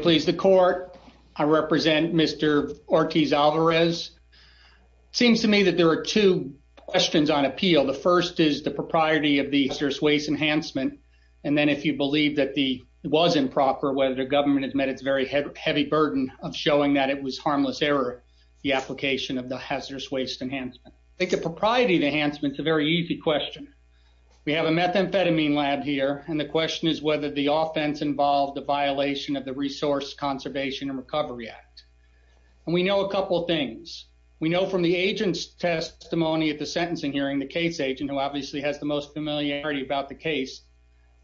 Please the court. I represent Mr. Ortiz Alvarez. Seems to me that there are two questions on appeal. The first is the propriety of the hazardous waste enhancement and then if you believe that the it was improper whether the government has met its very heavy burden of showing that it was harmless error the application of the hazardous waste enhancement. I think the propriety of enhancement is a very easy question. We have a methamphetamine lab here and the question is whether the offense involved the violation of the Resource Conservation and Recovery Act. And we know a couple of things. We know from the agent's testimony at the sentencing hearing, the case agent who obviously has the most familiarity about the case,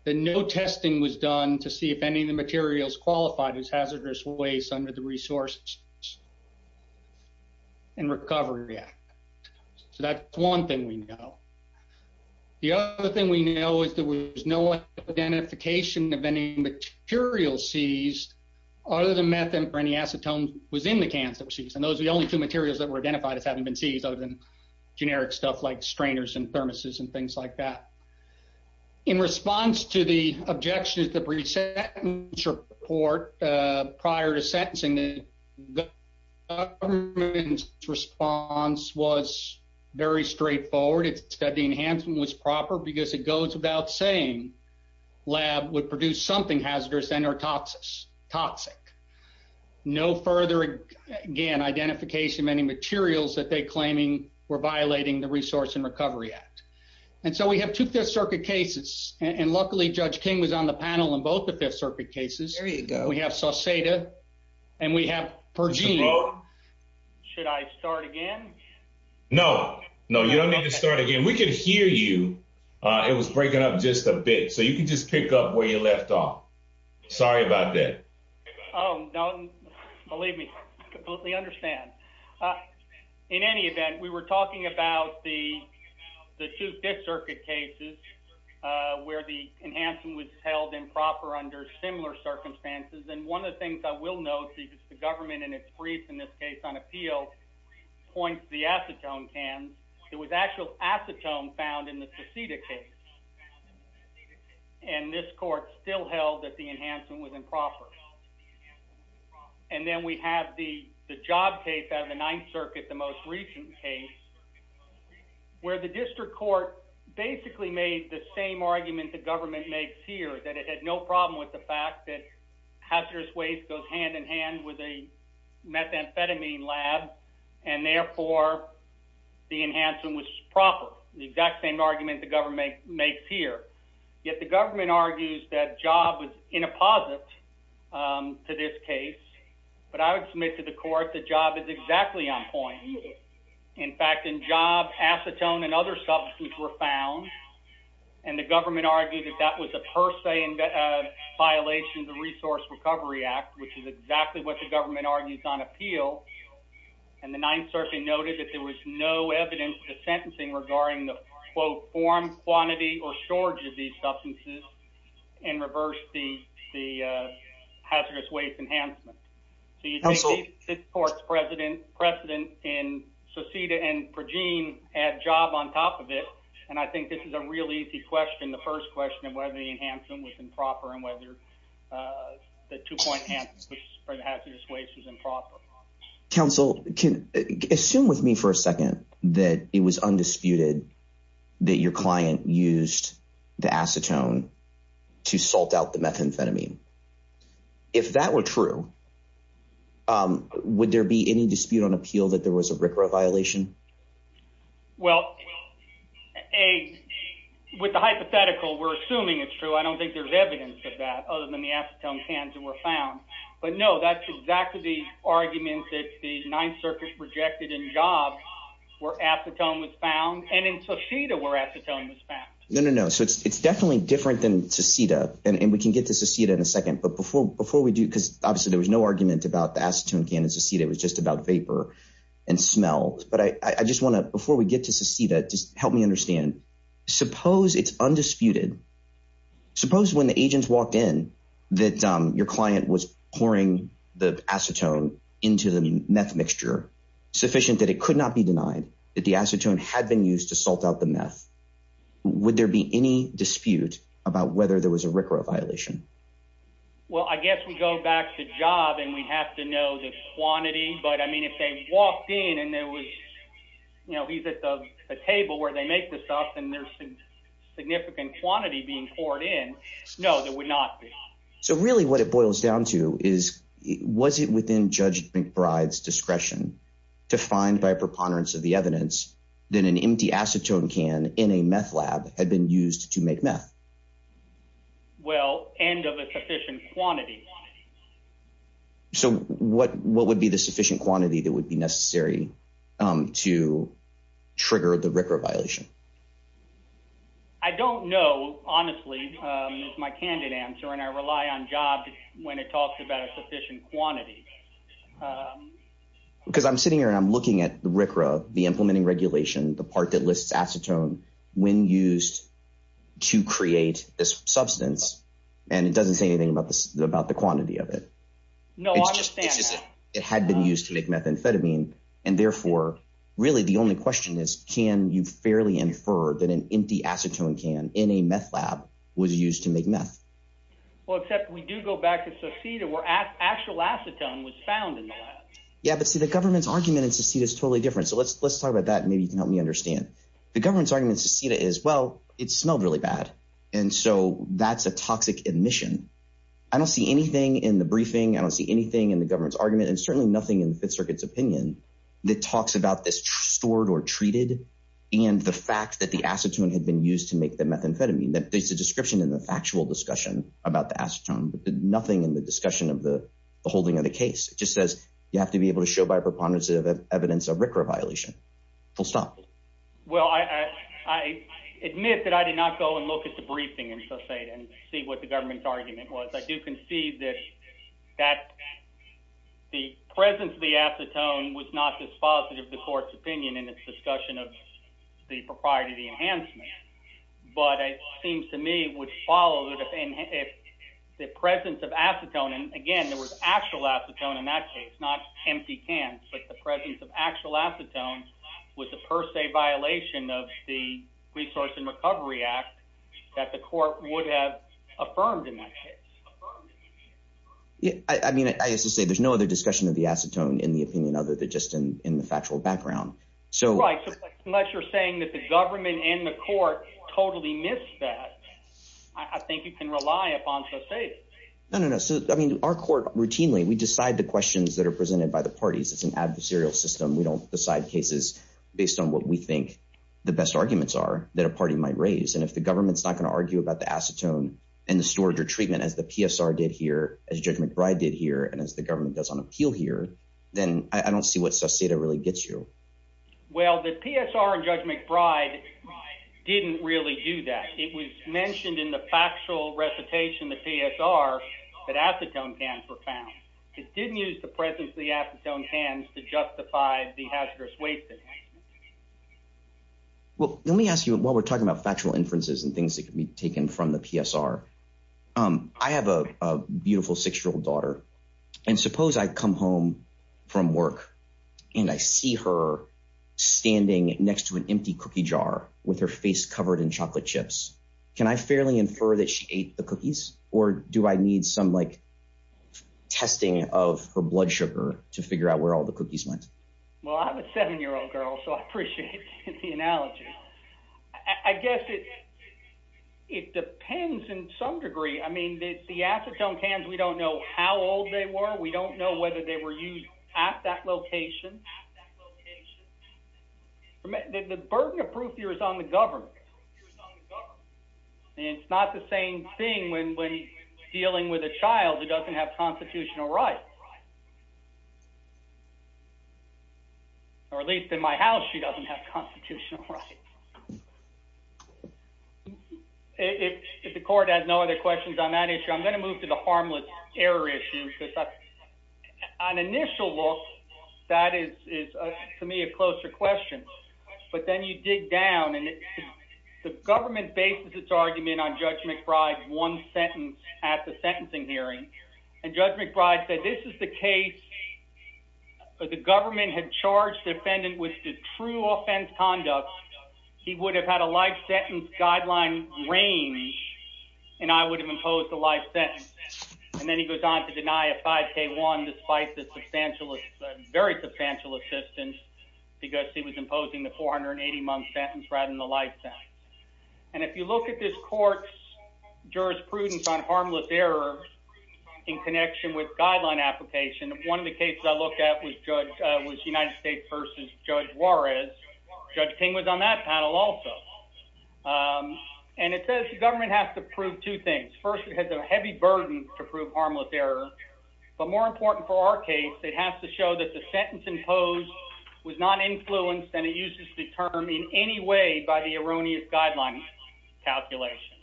that no testing was done to see if any of the materials qualified as hazardous waste under the Resource and Recovery Act. So that's one thing we know. The other thing we know is there was no identification of any material seized other than methamphetamine or any acetone was in the cans that were seized. And those are the only two materials that were identified as having been seized other than generic stuff like strainers and thermoses and things like that. In response to the objections that were sent in the court prior to sentencing, the government's response was very straightforward. It said the enhancement was proper because it goes without saying lab would produce something hazardous and or toxic. No further, again, identification of any materials that they're claiming were violating the Resource and Recovery Act. And so we have two Fifth Circuit cases and luckily Judge King was on the panel in both the Fifth Circuit cases. We have Sauceda and we have Pergine. Should I start again? No, no, you don't need to start again. We can hear you. It was breaking up just a bit, so you can just pick up where you left off. Sorry about that. Oh, no, believe me, I completely understand. In any event, we were talking about the two Fifth Circuit cases where the enhancement was held improper under similar circumstances. And one of the things I will note is the government in its brief, in this case on appeal, points to the acetone cans. It was actual acetone found in the Sauceda case. And this court still held that the enhancement was improper. And then we have the job case out of the Ninth Circuit, the most recent case, where the district court basically made the same argument the government makes here, that it had no problem with the fact that hazardous waste goes hand in hand with a methamphetamine lab, and therefore the enhancement was proper. The exact same argument the government makes here. Yet the government argues that job was inapposite to this case, but I would submit to the court that job is exactly on point. In fact, in job, acetone and other substances were found, and the government argued that that was a per se violation of the Resource Recovery Act, which is exactly what the government argues on appeal. And the Ninth Circuit noted that there was no evidence to sentencing regarding the, quote, form, quantity, or storage of these substances, and reversed the hazardous waste enhancement. So you see this court's precedent in Sauceda and Pergine had job on top of it, and I think this is a really easy question, the first question of whether the enhancement was improper, and whether the two-point hand for the hazardous waste was improper. Counsel, assume with me for a second that it was undisputed that your client used the acetone to salt out the methamphetamine. If that were true, would there be any dispute on appeal that there was a RCRA violation? Well, with the hypothetical, we're assuming it's true. I don't think there's evidence of that, other than the acetone cans that were found. But no, that's exactly the argument that the Ninth Circuit rejected in job, where acetone was found, and in Sauceda where acetone was found. No, no, no. So it's definitely different than Sauceda, and we can get to Sauceda in a second. But before we do, because obviously there was no argument about the acetone can in Sauceda, it was just about vapor and smell. But I just want to, before we get to Sauceda, just help me understand. Suppose it's undisputed suppose when the agents walked in that your client was pouring the acetone into the meth mixture, sufficient that it could not be denied that the acetone had been used to salt out the meth. Would there be any dispute about whether there was a RCRA violation? Well, I guess we go back to job, and we have to know the quantity. But I mean, if they walked in, and there was, you know, he's at the table where they make this up, and there's some no, there would not be. So really what it boils down to is, was it within Judge McBride's discretion to find by a preponderance of the evidence that an empty acetone can in a meth lab had been used to make meth? Well, and of a sufficient quantity. So what would be the sufficient quantity that would be necessary to trigger the RCRA violation? I don't know, honestly, is my candid answer. And I rely on job when it talks about a sufficient quantity. Because I'm sitting here and I'm looking at the RCRA, the implementing regulation, the part that lists acetone when used to create this substance. And it doesn't say anything about this, about the quantity of it. No, I understand. It had been used to make methamphetamine. And therefore, really, the only question is, can you fairly infer that an empty acetone can in a meth lab was used to make meth? Well, except we do go back to Seceda, where actual acetone was found in the lab. Yeah, but see, the government's argument in Seceda is totally different. So let's talk about that. Maybe you can help me understand. The government's argument in Seceda is, well, it smelled really bad. And so that's a toxic admission. I don't see anything in the briefing. I don't see anything in the government's argument, and certainly nothing in the Fifth Circuit's opinion, that talks about this stored or treated and the fact that the acetone had been used to make the methamphetamine. There's a description in the factual discussion about the acetone, but nothing in the discussion of the holding of the case. It just says you have to be able to show by a preponderance of evidence a RCRA violation. Full stop. Well, I admit that I did not go and look at the briefing in Seceda and see what the presence of the acetone was not dispositive of the court's opinion in its discussion of the propriety of the enhancement. But it seems to me it would follow that if the presence of acetone, and again, there was actual acetone in that case, not empty cans, but the presence of actual acetone was a per se violation of the Resource and Recovery Act that the court would have affirmed in that case. I mean, I used to say there's no other discussion of the acetone in the opinion other than just in the factual background. Right, so unless you're saying that the government and the court totally missed that, I think you can rely upon Seceda. No, no, no. So, I mean, our court routinely, we decide the questions that are presented by the parties. It's an adversarial system. We don't decide cases based on what we think the best arguments are that a party might raise. And if the government's not going to argue about the acetone and the storage or treatment as the PSR did here, as Judge McBride did here, and as the government does on appeal here, then I don't see what Seceda really gets you. Well, the PSR and Judge McBride didn't really do that. It was mentioned in the factual recitation of the PSR that acetone cans were found. It didn't use the presence of the acetone cans to justify the hazardous waste. Well, let me ask you, while we're talking about factual inferences and things that can be taken from the PSR, I have a beautiful six-year-old daughter. And suppose I come home from work and I see her standing next to an empty cookie jar with her face covered in chocolate chips. Can I fairly infer that she ate the cookies? Or do I need some like testing of her blood sugar to figure out where all the cookies went? Well, I have a seven-year-old girl, so I appreciate the analogy. I guess it depends in some degree. I mean, the acetone cans, we don't know how old they were. We don't know whether they were used at that location. The burden of proof here is on the government. And it's not the same thing when dealing with a child who doesn't have constitutional rights. Or at least in my house, she doesn't have constitutional rights. If the court has no other questions on that issue, I'm going to move to the harmless error issue. On initial look, that is to me a closer question. But then you dig down, and the government bases its argument on Judge McBride's one sentence at the sentencing hearing. And Judge McBride said, this is the case where the government had charged the defendant with the true offense conduct. He would have had a life sentence guideline range, and I would have imposed a life sentence. And then he goes on to deny a 5K1 despite the very substantial assistance because he was imposing the 480-month sentence rather than the life sentence. And if you look at this court's jurisprudence on harmless error in connection with guideline application, one of the cases I looked at was United States v. Judge Juarez. Judge King was on that panel also. And it says the government has to prove two things. First, it has a heavy burden to prove harmless error. But more important for our case, it has to show that the sentence guideline calculation.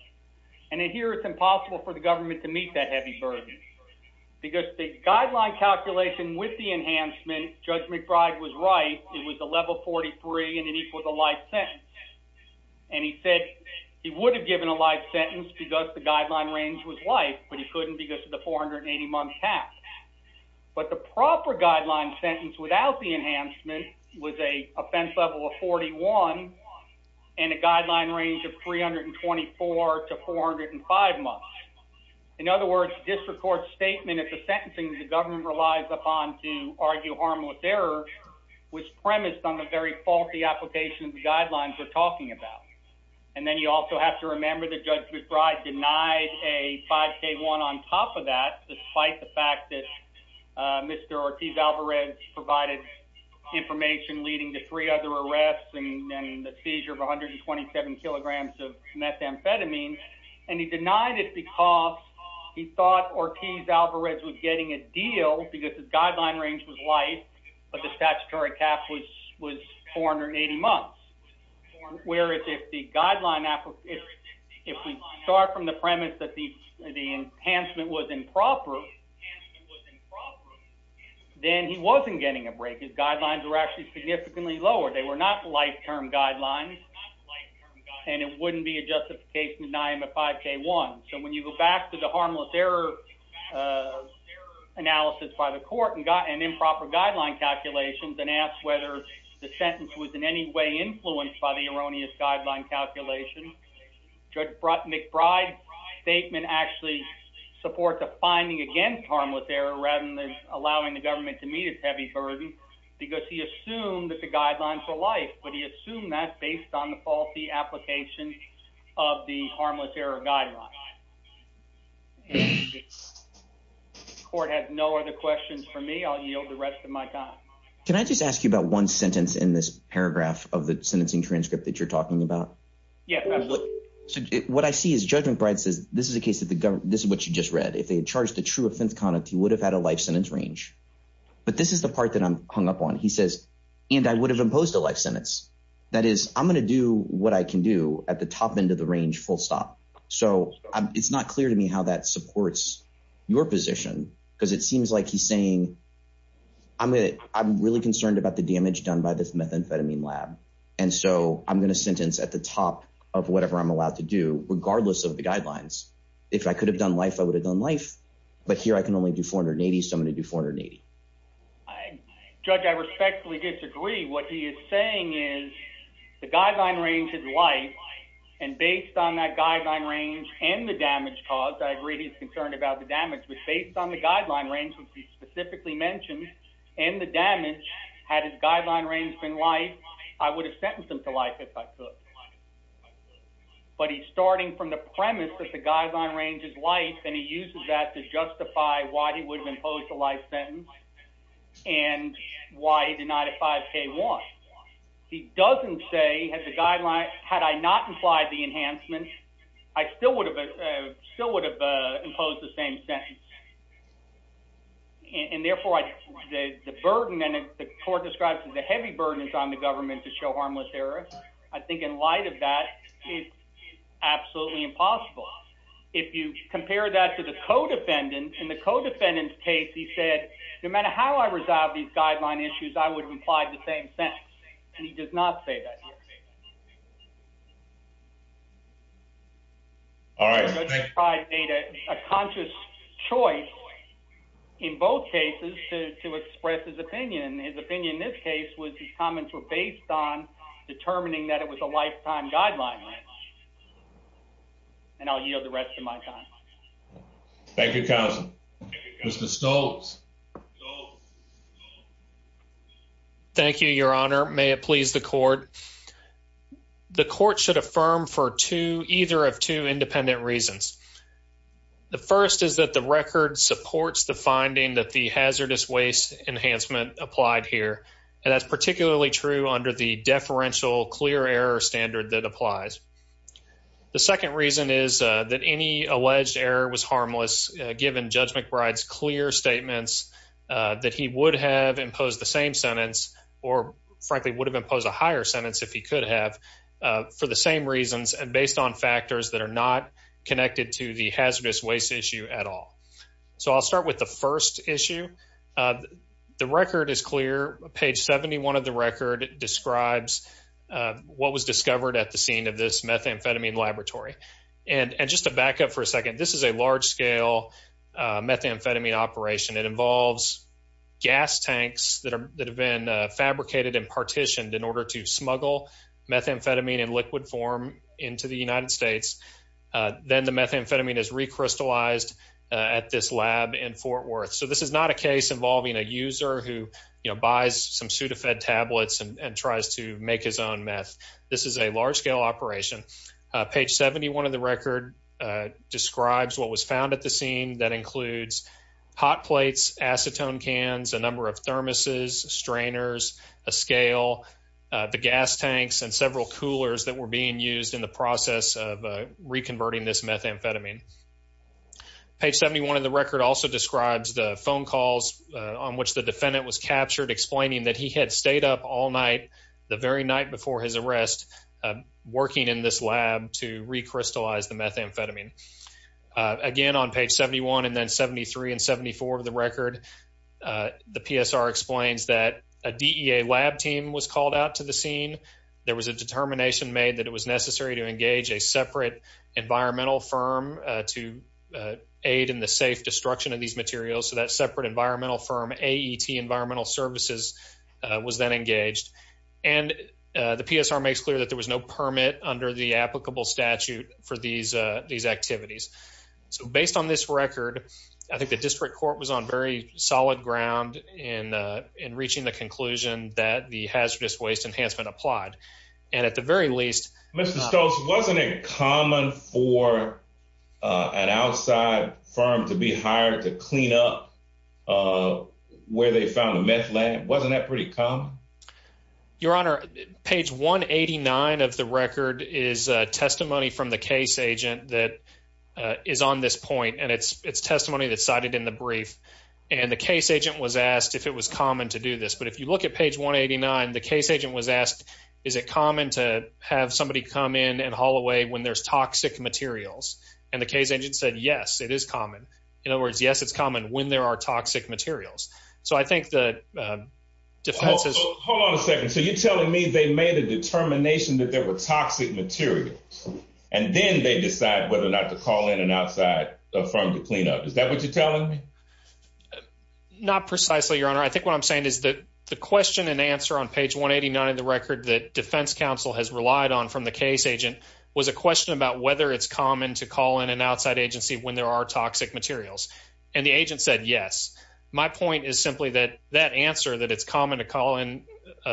And in here, it's impossible for the government to meet that heavy burden. Because the guideline calculation with the enhancement, Judge McBride was right, it was a level 43 and it equals a life sentence. And he said he would have given a life sentence because the guideline range was life, but he couldn't because of the 480-month cap. But the proper guideline sentence without the enhancement was an offense level of 41 and a guideline range of 324 to 405 months. In other words, district court's statement at the sentencing the government relies upon to argue harmless error was premised on the very faulty application of the guidelines we're talking about. And then you also have to remember that Judge McBride denied a 5K1 on top of that despite the fact that Mr. Ortiz-Alvarez provided information leading to three other arrests and the seizure of 127 kilograms of methamphetamine. And he denied it because he thought Ortiz-Alvarez was getting a deal because the guideline range was life, but the statutory cap was 480 months. Whereas if the guideline, if we start from the guidelines were actually significantly lower, they were not life-term guidelines and it wouldn't be a justification to deny him a 5K1. So when you go back to the harmless error analysis by the court and improper guideline calculations and ask whether the sentence was in any way influenced by the erroneous guideline calculation, Judge McBride's statement actually supports a finding against harmless error rather than because he assumed that the guidelines were life. But he assumed that based on the faulty application of the harmless error guideline. The court has no other questions for me. I'll yield the rest of my time. Can I just ask you about one sentence in this paragraph of the sentencing transcript that you're talking about? Yes, absolutely. What I see is Judge McBride says this is a case that the government, this is what you just read. If they had charged a true offense he would have had a life sentence range. But this is the part that I'm hung up on. He says, and I would have imposed a life sentence. That is, I'm going to do what I can do at the top end of the range full stop. So it's not clear to me how that supports your position because it seems like he's saying I'm really concerned about the damage done by this methamphetamine lab. And so I'm going to sentence at the top of whatever I'm allowed to do regardless of the range. I can only do 480, so I'm going to do 480. Judge, I respectfully disagree. What he is saying is the guideline range is life. And based on that guideline range and the damage caused, I agree he's concerned about the damage. But based on the guideline range which he specifically mentioned and the damage, had his guideline range been life, I would have sentenced him to life if I could. But he's starting from the premise that the guideline range is life and he uses that to impose a life sentence and why he denied a 5K1. He doesn't say, had I not implied the enhancement, I still would have imposed the same sentence. And therefore, the burden, and the court describes it as a heavy burden on the government to show harmless error. I think in light of that, it's absolutely impossible. If you compare that to the co-defendant, in the co-defendant's case, he said, no matter how I resolve these guideline issues, I would have implied the same sentence. And he does not say that here. All right. The judge probably made a conscious choice in both cases to express his opinion. His opinion in this case was his comments were based on determining that it was a lifetime guideline. And I'll yield the rest of my time. Thank you, counsel. Mr. Stoltz. Thank you, your honor. May it please the court. The court should affirm for either of two independent reasons. The first is that the record supports the finding that the hazardous waste enhancement applied here. And that's particularly true under the deferential clear error standard that applies. The second reason is that any alleged error was harmless, given Judge McBride's clear statements that he would have imposed the same sentence, or frankly, would have imposed a higher sentence if he could have, for the same reasons and based on factors that are not connected to the hazardous waste issue at all. So I'll start with the first issue. The record is clear. Page 71 of the record describes what was discovered at the scene of this methamphetamine laboratory. And just to back up for a second, this is a large scale methamphetamine operation. It involves gas tanks that have been fabricated and partitioned in order to smuggle methamphetamine in liquid form into the United States. Then the methamphetamine is recrystallized at this lab in Fort Worth. So this is not a case involving a user who buys some Sudafed tablets and tries to make his own meth. This is a large scale operation. Page 71 of the record describes what was found at the scene. That includes hot plates, acetone cans, a number of thermoses, strainers, a scale, the gas tanks, and several coolers that were being used in the process of reconverting this methamphetamine. Page 71 of the record also describes the phone calls on which the defendant was captured, explaining that he had stayed up all night the very night before his arrest, working in this lab to recrystallize the methamphetamine. Again, on page 71 and then 73 and 74 of the record, the PSR explains that a DEA lab team was called out to the scene. There was a determination made that it was necessary to engage a separate environmental firm to aid in the safe destruction of these materials. So that separate environmental firm, AET Environmental Services, was then engaged. And the PSR makes it clear that there was no permit under the applicable statute for these activities. So based on this record, I think the district court was on very solid ground in reaching the conclusion that the hazardous waste enhancement applied. And at the very least... Mr. Stokes, wasn't it common for an outside firm to be hired to clean up where they found the meth lab? Wasn't that pretty common? Your Honor, page 189 of the record is testimony from the case agent that is on this point, and it's testimony that's cited in the brief. And the case agent was asked if it was common to do this. But if you look at page 189, the case agent was asked, is it common to have somebody come in and haul away when there's toxic materials? And the case agent said, yes, it is common. In other words, yes, it's common when there are toxic materials. So I think the defense... Hold on a second. So you're telling me they made a determination that there were toxic materials, and then they decide whether or not to call in an outside firm to clean up. Is that what you're telling me? Not precisely, Your Honor. I think what I'm saying is that the question and answer on page 189 of the record that defense counsel has relied on from the case agent was a question about whether it's common to call in an outside agency when there are toxic materials. And the agent said, yes. My point is simply that that answer that it's common to call in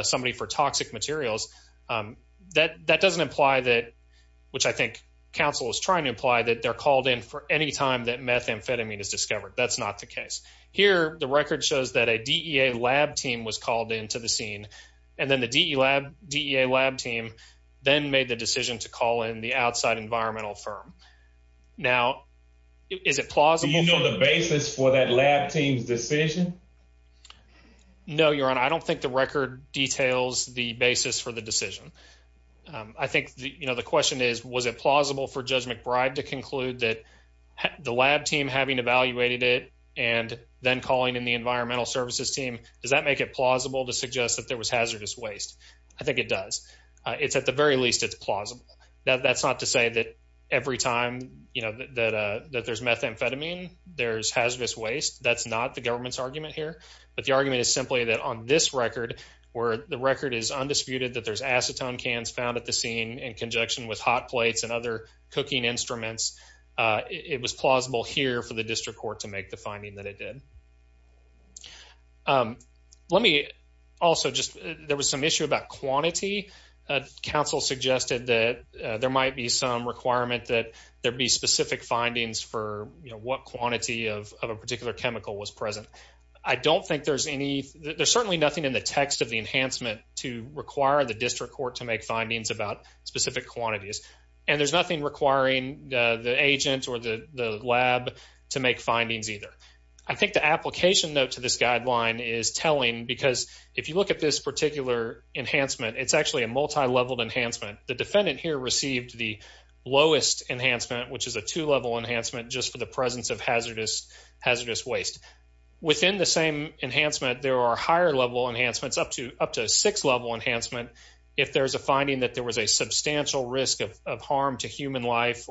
somebody for toxic materials, that doesn't imply that, which I think counsel is trying to imply, that they're called in for any time that methamphetamine is discovered. That's not the case. Here, the record shows that a DEA lab team was called into the scene, and then the DEA lab team then made the decision to call in the outside environmental firm. Now, is it plausible... Do you know the basis for that lab team's decision? No, Your Honor. I don't think the record details the basis for the decision. I think, you know, the question is, was it plausible for Judge McBride to conclude that the lab team having evaluated it and then calling in the environmental services team, does that make it plausible to suggest that there was hazardous waste? I think it does. It's at the very least, it's plausible. That's not to say that every time, you know, that there's methamphetamine, there's hazardous waste. That's not the government's argument here. But the argument is simply that on this record, where the record is undisputed, that there's acetone cans found at the scene in conjunction with hot plates and other cooking instruments, it was plausible here for the district court to make the finding that it did. Um, let me also just... There was some issue about quantity. Council suggested that there might be some requirement that there be specific findings for, you know, what quantity of a particular chemical was present. I don't think there's any... There's certainly nothing in the text of the enhancement to require the district court to make findings about specific quantities. And there's nothing requiring the agent or the lab to make findings either. I think the application note to this guideline is telling, because if you look at this particular enhancement, it's actually a multi-leveled enhancement. The defendant here received the lowest enhancement, which is a two-level enhancement, just for the presence of hazardous hazardous waste. Within the same enhancement, there are higher level enhancements up to up to a six-level enhancement if there's a finding that there was a substantial risk of In the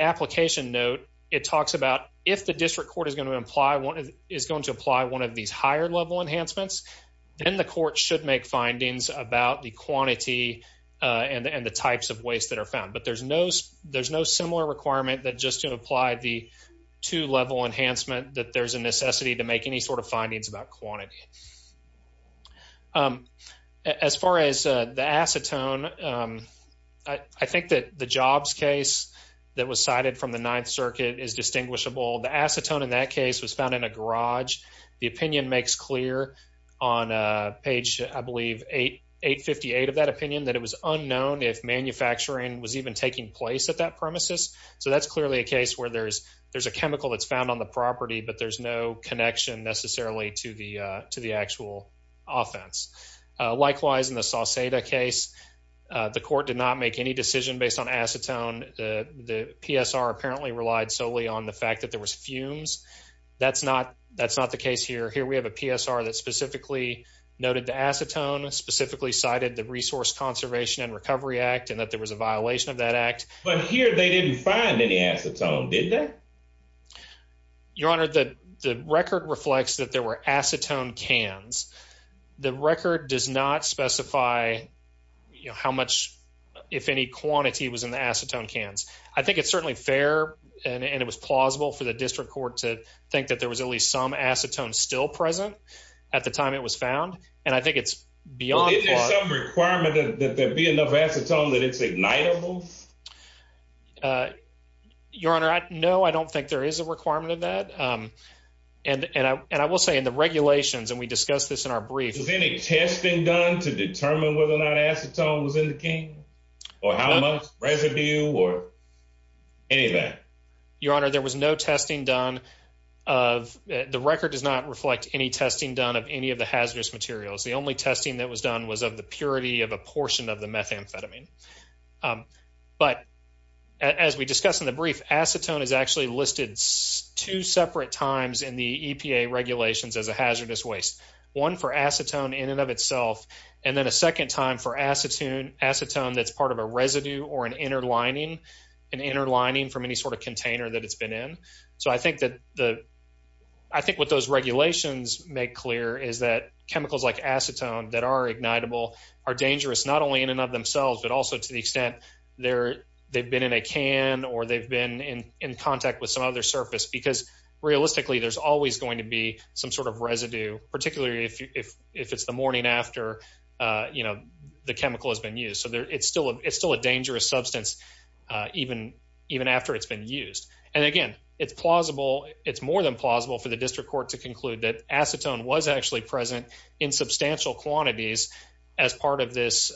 application note, it talks about if the district court is going to apply one of these higher level enhancements, then the court should make findings about the quantity and the types of waste that are found. But there's no similar requirement that just to apply the two-level enhancement that there's a necessity to make any sort of findings about quantity. As far as the acetone, I think that the Jobs case that was cited from the Ninth Circuit is distinguishable. The acetone in that case was found in a garage. The opinion makes clear on page, I believe, 858 of that opinion, that it was unknown if manufacturing was even taking place at that premises. So that's clearly a case where there's a chemical that's found on the property, but there's no connection necessarily to the actual offense. Likewise, in the Sauceda case, the court did not make any decision based on acetone. The PSR apparently relied solely on the fact that there was fumes. That's not the case here. Here we have a PSR that specifically noted the acetone, specifically cited the Resource Conservation and Recovery Act, and that there was a violation of that act. But here they didn't find any acetone, did they? Your Honor, the record reflects that there were acetone cans. The record does not specify how much, if any, quantity was in the acetone cans. I think it's certainly fair, and it was plausible for the district court to think that there was at least some acetone still present at the time it was found, and I think it's beyond... Is there some requirement that there be enough acetone that it's ignitable? Your Honor, no, I don't think there is a requirement of that. And I will say, in the regulations, and we discussed this in our brief... Was any testing done to determine whether or not acetone was in the can, or how much residue, or any of that? Your Honor, there was no testing done of... The record does not reflect any testing done of any of the hazardous materials. The only testing that was done was of the purity of a portion of the methamphetamine. But, as we discussed in the brief, acetone is actually listed two separate times in the EPA regulations as a hazardous waste. One for acetone in and of itself, and then a second time for acetone that's part of a residue or an inner lining, an inner lining from any sort of container that it's been in. So I think what those regulations make clear is that chemicals like acetone that are ignitable are dangerous, not only in and of themselves, but also to the extent they've been in a can, or they've been in contact with some other surface. Because realistically, there's always going to be some sort of residue, particularly if it's the morning after the chemical has been used. So it's still a dangerous substance even after it's been used. And again, it's plausible, it's more than plausible for the district court to conclude that there were substantial quantities as part of this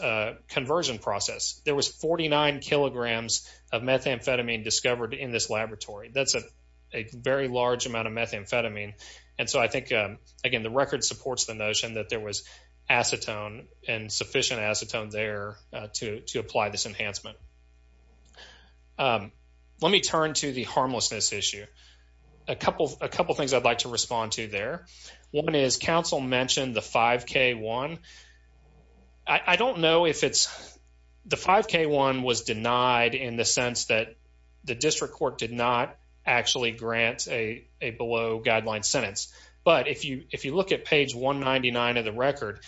conversion process. There was 49 kilograms of methamphetamine discovered in this laboratory. That's a very large amount of methamphetamine. And so I think, again, the record supports the notion that there was acetone and sufficient acetone there to apply this enhancement. Let me turn to the harmlessness issue. A couple things I'd like to respond to there. One is counsel mentioned the 5k1. I don't know if it's the 5k1 was denied in the sense that the district court did not actually grant a below guideline sentence. But if you look at page 199 of the record,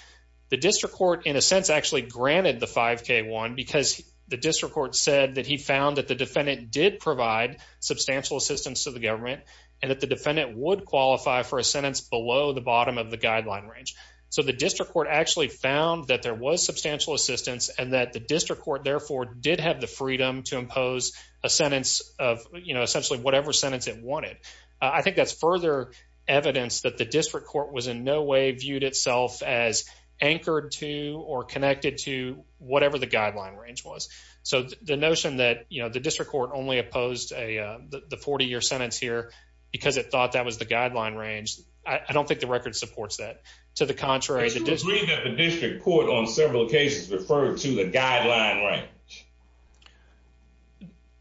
the district court in a sense actually granted the 5k1 because the district court said that he found that the defendant did provide substantial assistance to the government and that the defendant would qualify for a sentence below the bottom of the guideline range. So the district court actually found that there was substantial assistance and that the district court therefore did have the freedom to impose a sentence of, you know, essentially whatever sentence it wanted. I think that's further evidence that the district court was in no way viewed itself as anchored to or connected to whatever the guideline range was. So the notion that, you know, the district court only opposed the 40-year sentence here because it thought that was the guideline range, I don't think the record supports that. To the contrary, the district court on several cases referred to the guideline range.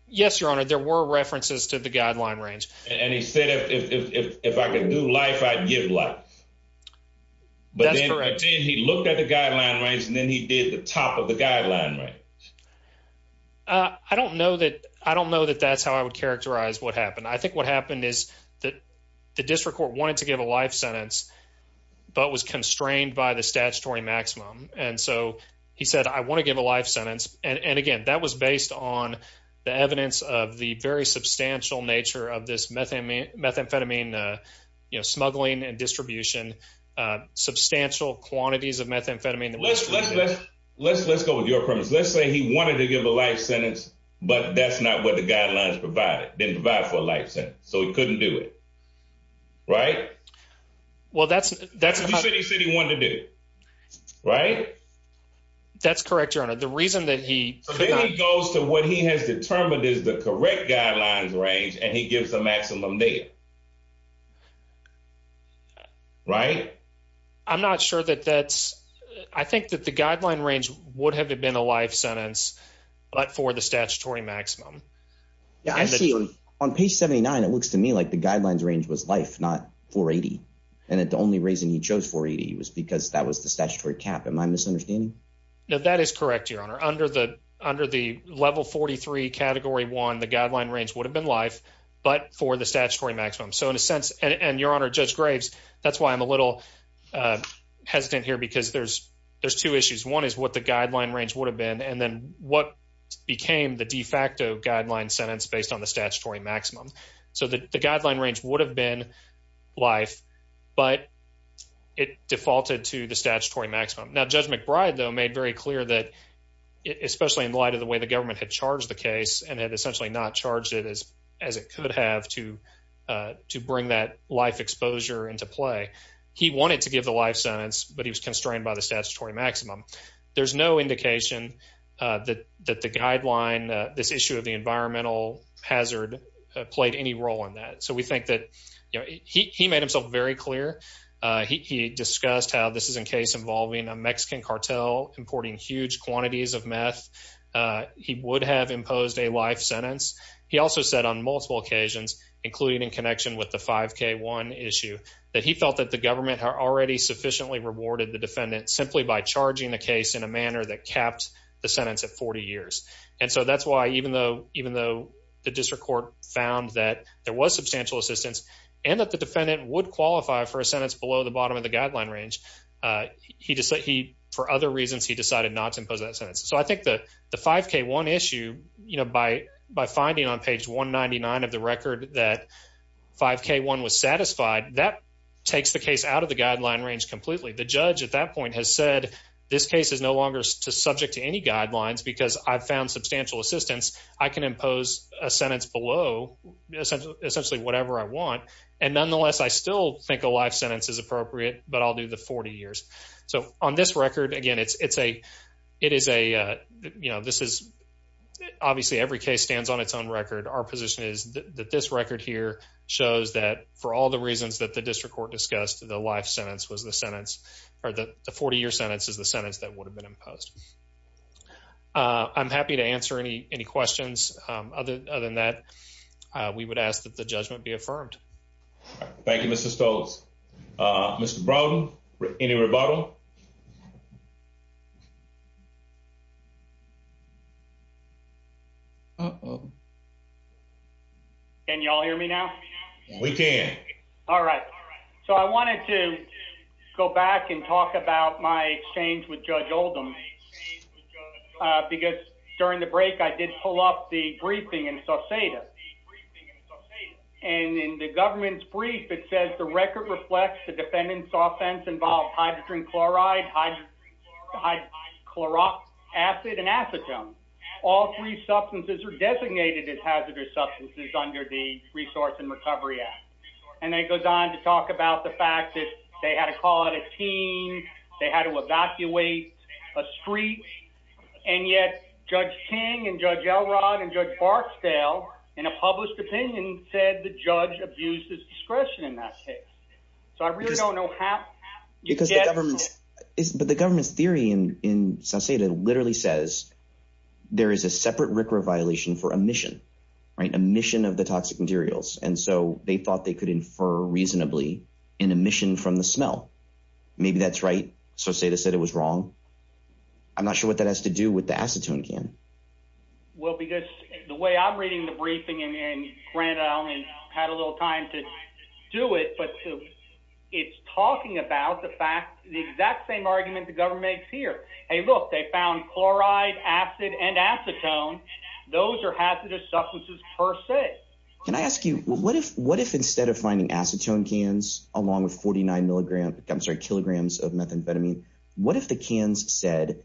Yes, your honor, there were references to the guideline range. And he said if I could do life, I'd give life. But then he looked at the guideline range and then he did the top of the guideline range. I don't know that I don't know that that's how I would characterize what happened. I think what happened is that the district court wanted to give a life sentence but was constrained by the statutory maximum. And so he said, I want to give a life sentence. And again, that was based on the evidence of the very substantial nature of this methamphetamine smuggling and distribution, substantial quantities of methamphetamine. Let's go with your premise. Let's say he wanted to give a life sentence, but that's not what the guidelines provided, didn't provide for a life sentence. So he couldn't do it, right? Well, that's what he said he wanted to do, right? That's correct, your honor. The reason that he... So then he goes to what he has determined is the correct guidelines range and he gives the the guideline range would have been a life sentence, but for the statutory maximum. Yeah, I see on page 79, it looks to me like the guidelines range was life, not 480. And the only reason he chose 480 was because that was the statutory cap. Am I misunderstanding? No, that is correct, your honor. Under the level 43 category one, the guideline range would have been life, but for the statutory maximum. So in a sense, and your honor, Judge Graves, that's why I'm a little hesitant here because there's two issues. One is what the guideline range would have been, and then what became the de facto guideline sentence based on the statutory maximum. So the guideline range would have been life, but it defaulted to the statutory maximum. Now, Judge McBride, though, made very clear that, especially in light of the way the government had charged the case and had essentially not charged it as it could have to bring that life exposure into play, he wanted to give the life sentence, but he was constrained by the statutory maximum. There's no indication that the guideline, this issue of the environmental hazard played any role in that. So we think that he made himself very clear. He discussed how this is a case involving a Mexican cartel importing huge quantities of meth. He would have imposed a sentence. He also said on multiple occasions, including in connection with the 5K1 issue, that he felt that the government had already sufficiently rewarded the defendant simply by charging the case in a manner that capped the sentence at 40 years. And so that's why, even though the district court found that there was substantial assistance and that the defendant would qualify for a sentence below the bottom of the guideline range, for other reasons, he decided not to impose that sentence. So I think that the 5K1 issue, by finding on page 199 of the record that 5K1 was satisfied, that takes the case out of the guideline range completely. The judge at that point has said, this case is no longer subject to any guidelines because I've found substantial assistance. I can impose a sentence below, essentially whatever I want. And nonetheless, I still think a life sentence is appropriate, but I'll do the 40 years. So on this record, again, it's a, it is a, you know, this is obviously every case stands on its own record. Our position is that this record here shows that for all the reasons that the district court discussed, the life sentence was the sentence, or the 40 year sentence is the sentence that would have been imposed. I'm happy to answer any questions. Other than that, we would ask that the judgment be approved. Can you all hear me now? We can. All right. So I wanted to go back and talk about my exchange with Judge Oldham, because during the break, I did pull up the briefing in Sauceda. And in the government's brief, it says the record reflects the defendant's offense involved hydrogen chloride, hydrochloric acid, and acetone. All three substances are designated as hazardous substances under the Resource and Recovery Act. And then it goes on to talk about the fact that they had to call out a team, they had to evacuate a street, and yet Judge King and Judge Elrod and Judge Barksdale, in a published opinion, said the judge abuses discretion in that case. So I really don't know how you get... But the government's theory in Sauceda literally says there is a separate RCRA violation for emission, right? Emission of the toxic materials. And so they thought they could infer reasonably an emission from the smell. Maybe that's right. Sauceda said it was wrong. I'm not sure what that has to do with the acetone can. Well, because the way I'm reading the briefing, and granted I only had a little time to do it, but it's talking about the exact same argument the government makes here. Hey, look, they found chloride, acid, and acetone. Those are hazardous substances per se. Can I ask you, what if instead of finding acetone cans along with 49 milligrams, I'm sorry, kilograms of methamphetamine, what if the cans said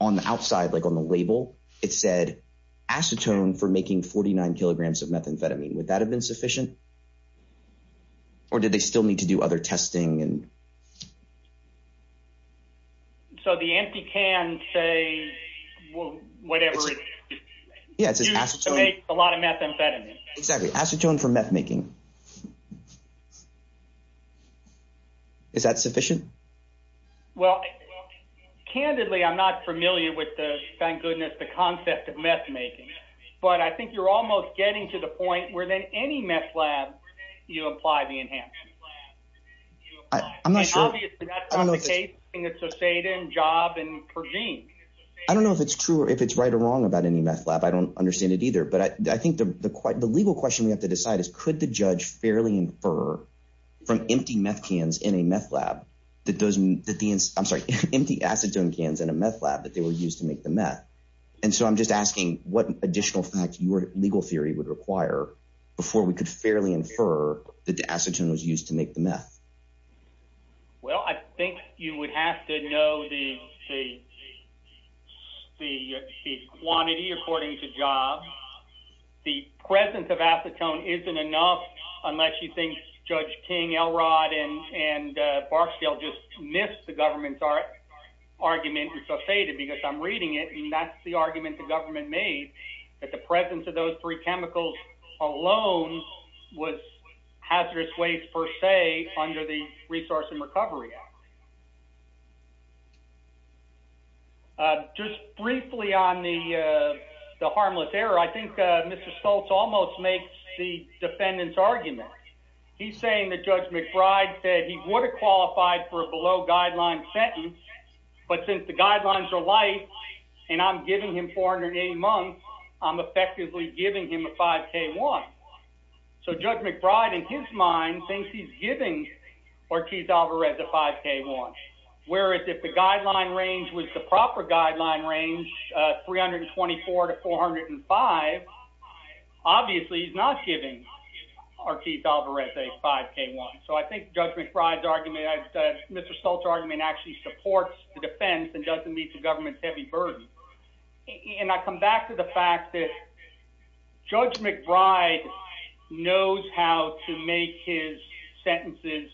on the outside, like on the label, it said acetone for making 49 kilograms of methamphetamine? Would they still need to do other testing? So the empty can, say, whatever it's used to make a lot of methamphetamine. Exactly. Acetone for meth making. Is that sufficient? Well, candidly, I'm not familiar with the, thank goodness, the concept of meth making, but I think you're almost getting to the point where then any meth lab, you apply the enhancement. I'm not sure. I don't know if it's true or if it's right or wrong about any meth lab. I don't understand it either, but I think the legal question we have to decide is could the judge fairly infer from empty meth cans in a meth lab that those, I'm sorry, empty acetone cans in a meth lab that they were used to make the meth. And so I'm just asking what additional facts your make the meth? Well, I think you would have to know the quantity according to job. The presence of acetone isn't enough unless you think Judge King, Elrod, and Barksdale just missed the government's argument and so faded because I'm reading it and that's the argument the government made that the presence of those three chemicals alone was hazardous waste per se under the Resource and Recovery Act. Just briefly on the harmless error, I think Mr. Stoltz almost makes the defendant's argument. He's saying that Judge McBride said he would have qualified for a below guideline sentence, but since the guidelines are light and I'm giving him 480 months, I'm effectively giving him a 5K1. So Judge McBride in his mind thinks he's giving Ortiz-Alvarez a 5K1, whereas if the guideline range was the proper guideline range, 324 to 405, obviously he's not giving Ortiz-Alvarez a 5K1. So I think Judge McBride's argument, Mr. Stoltz's argument actually supports the defense and doesn't meet the government's heavy burden. And I come back to the fact that Judge McBride knows how to make his sentences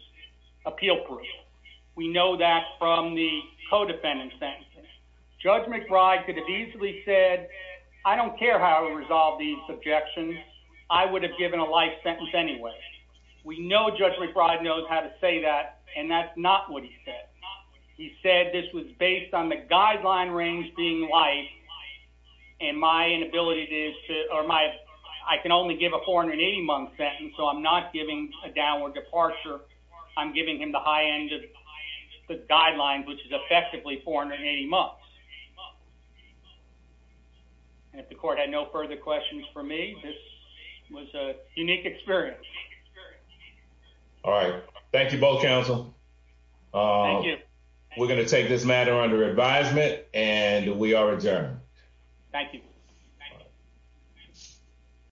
appeal proof. We know that from the co-defendant's sentence. Judge McBride could have easily said, I don't care how I resolve these objections, I would have given a light sentence anyway. We know Judge McBride knows how to say that, and that's not what he said. He said this was based on the guideline range being light, and my inability to, or my, I can only give a 480-month sentence, so I'm not giving a downward departure. I'm giving him the high end of the guidelines, which is effectively 480 months. And if the court had no further questions for me, this was a unique experience. All right. Thank you both, counsel. We're going to take this matter under advisement, and we are adjourned. Thank you.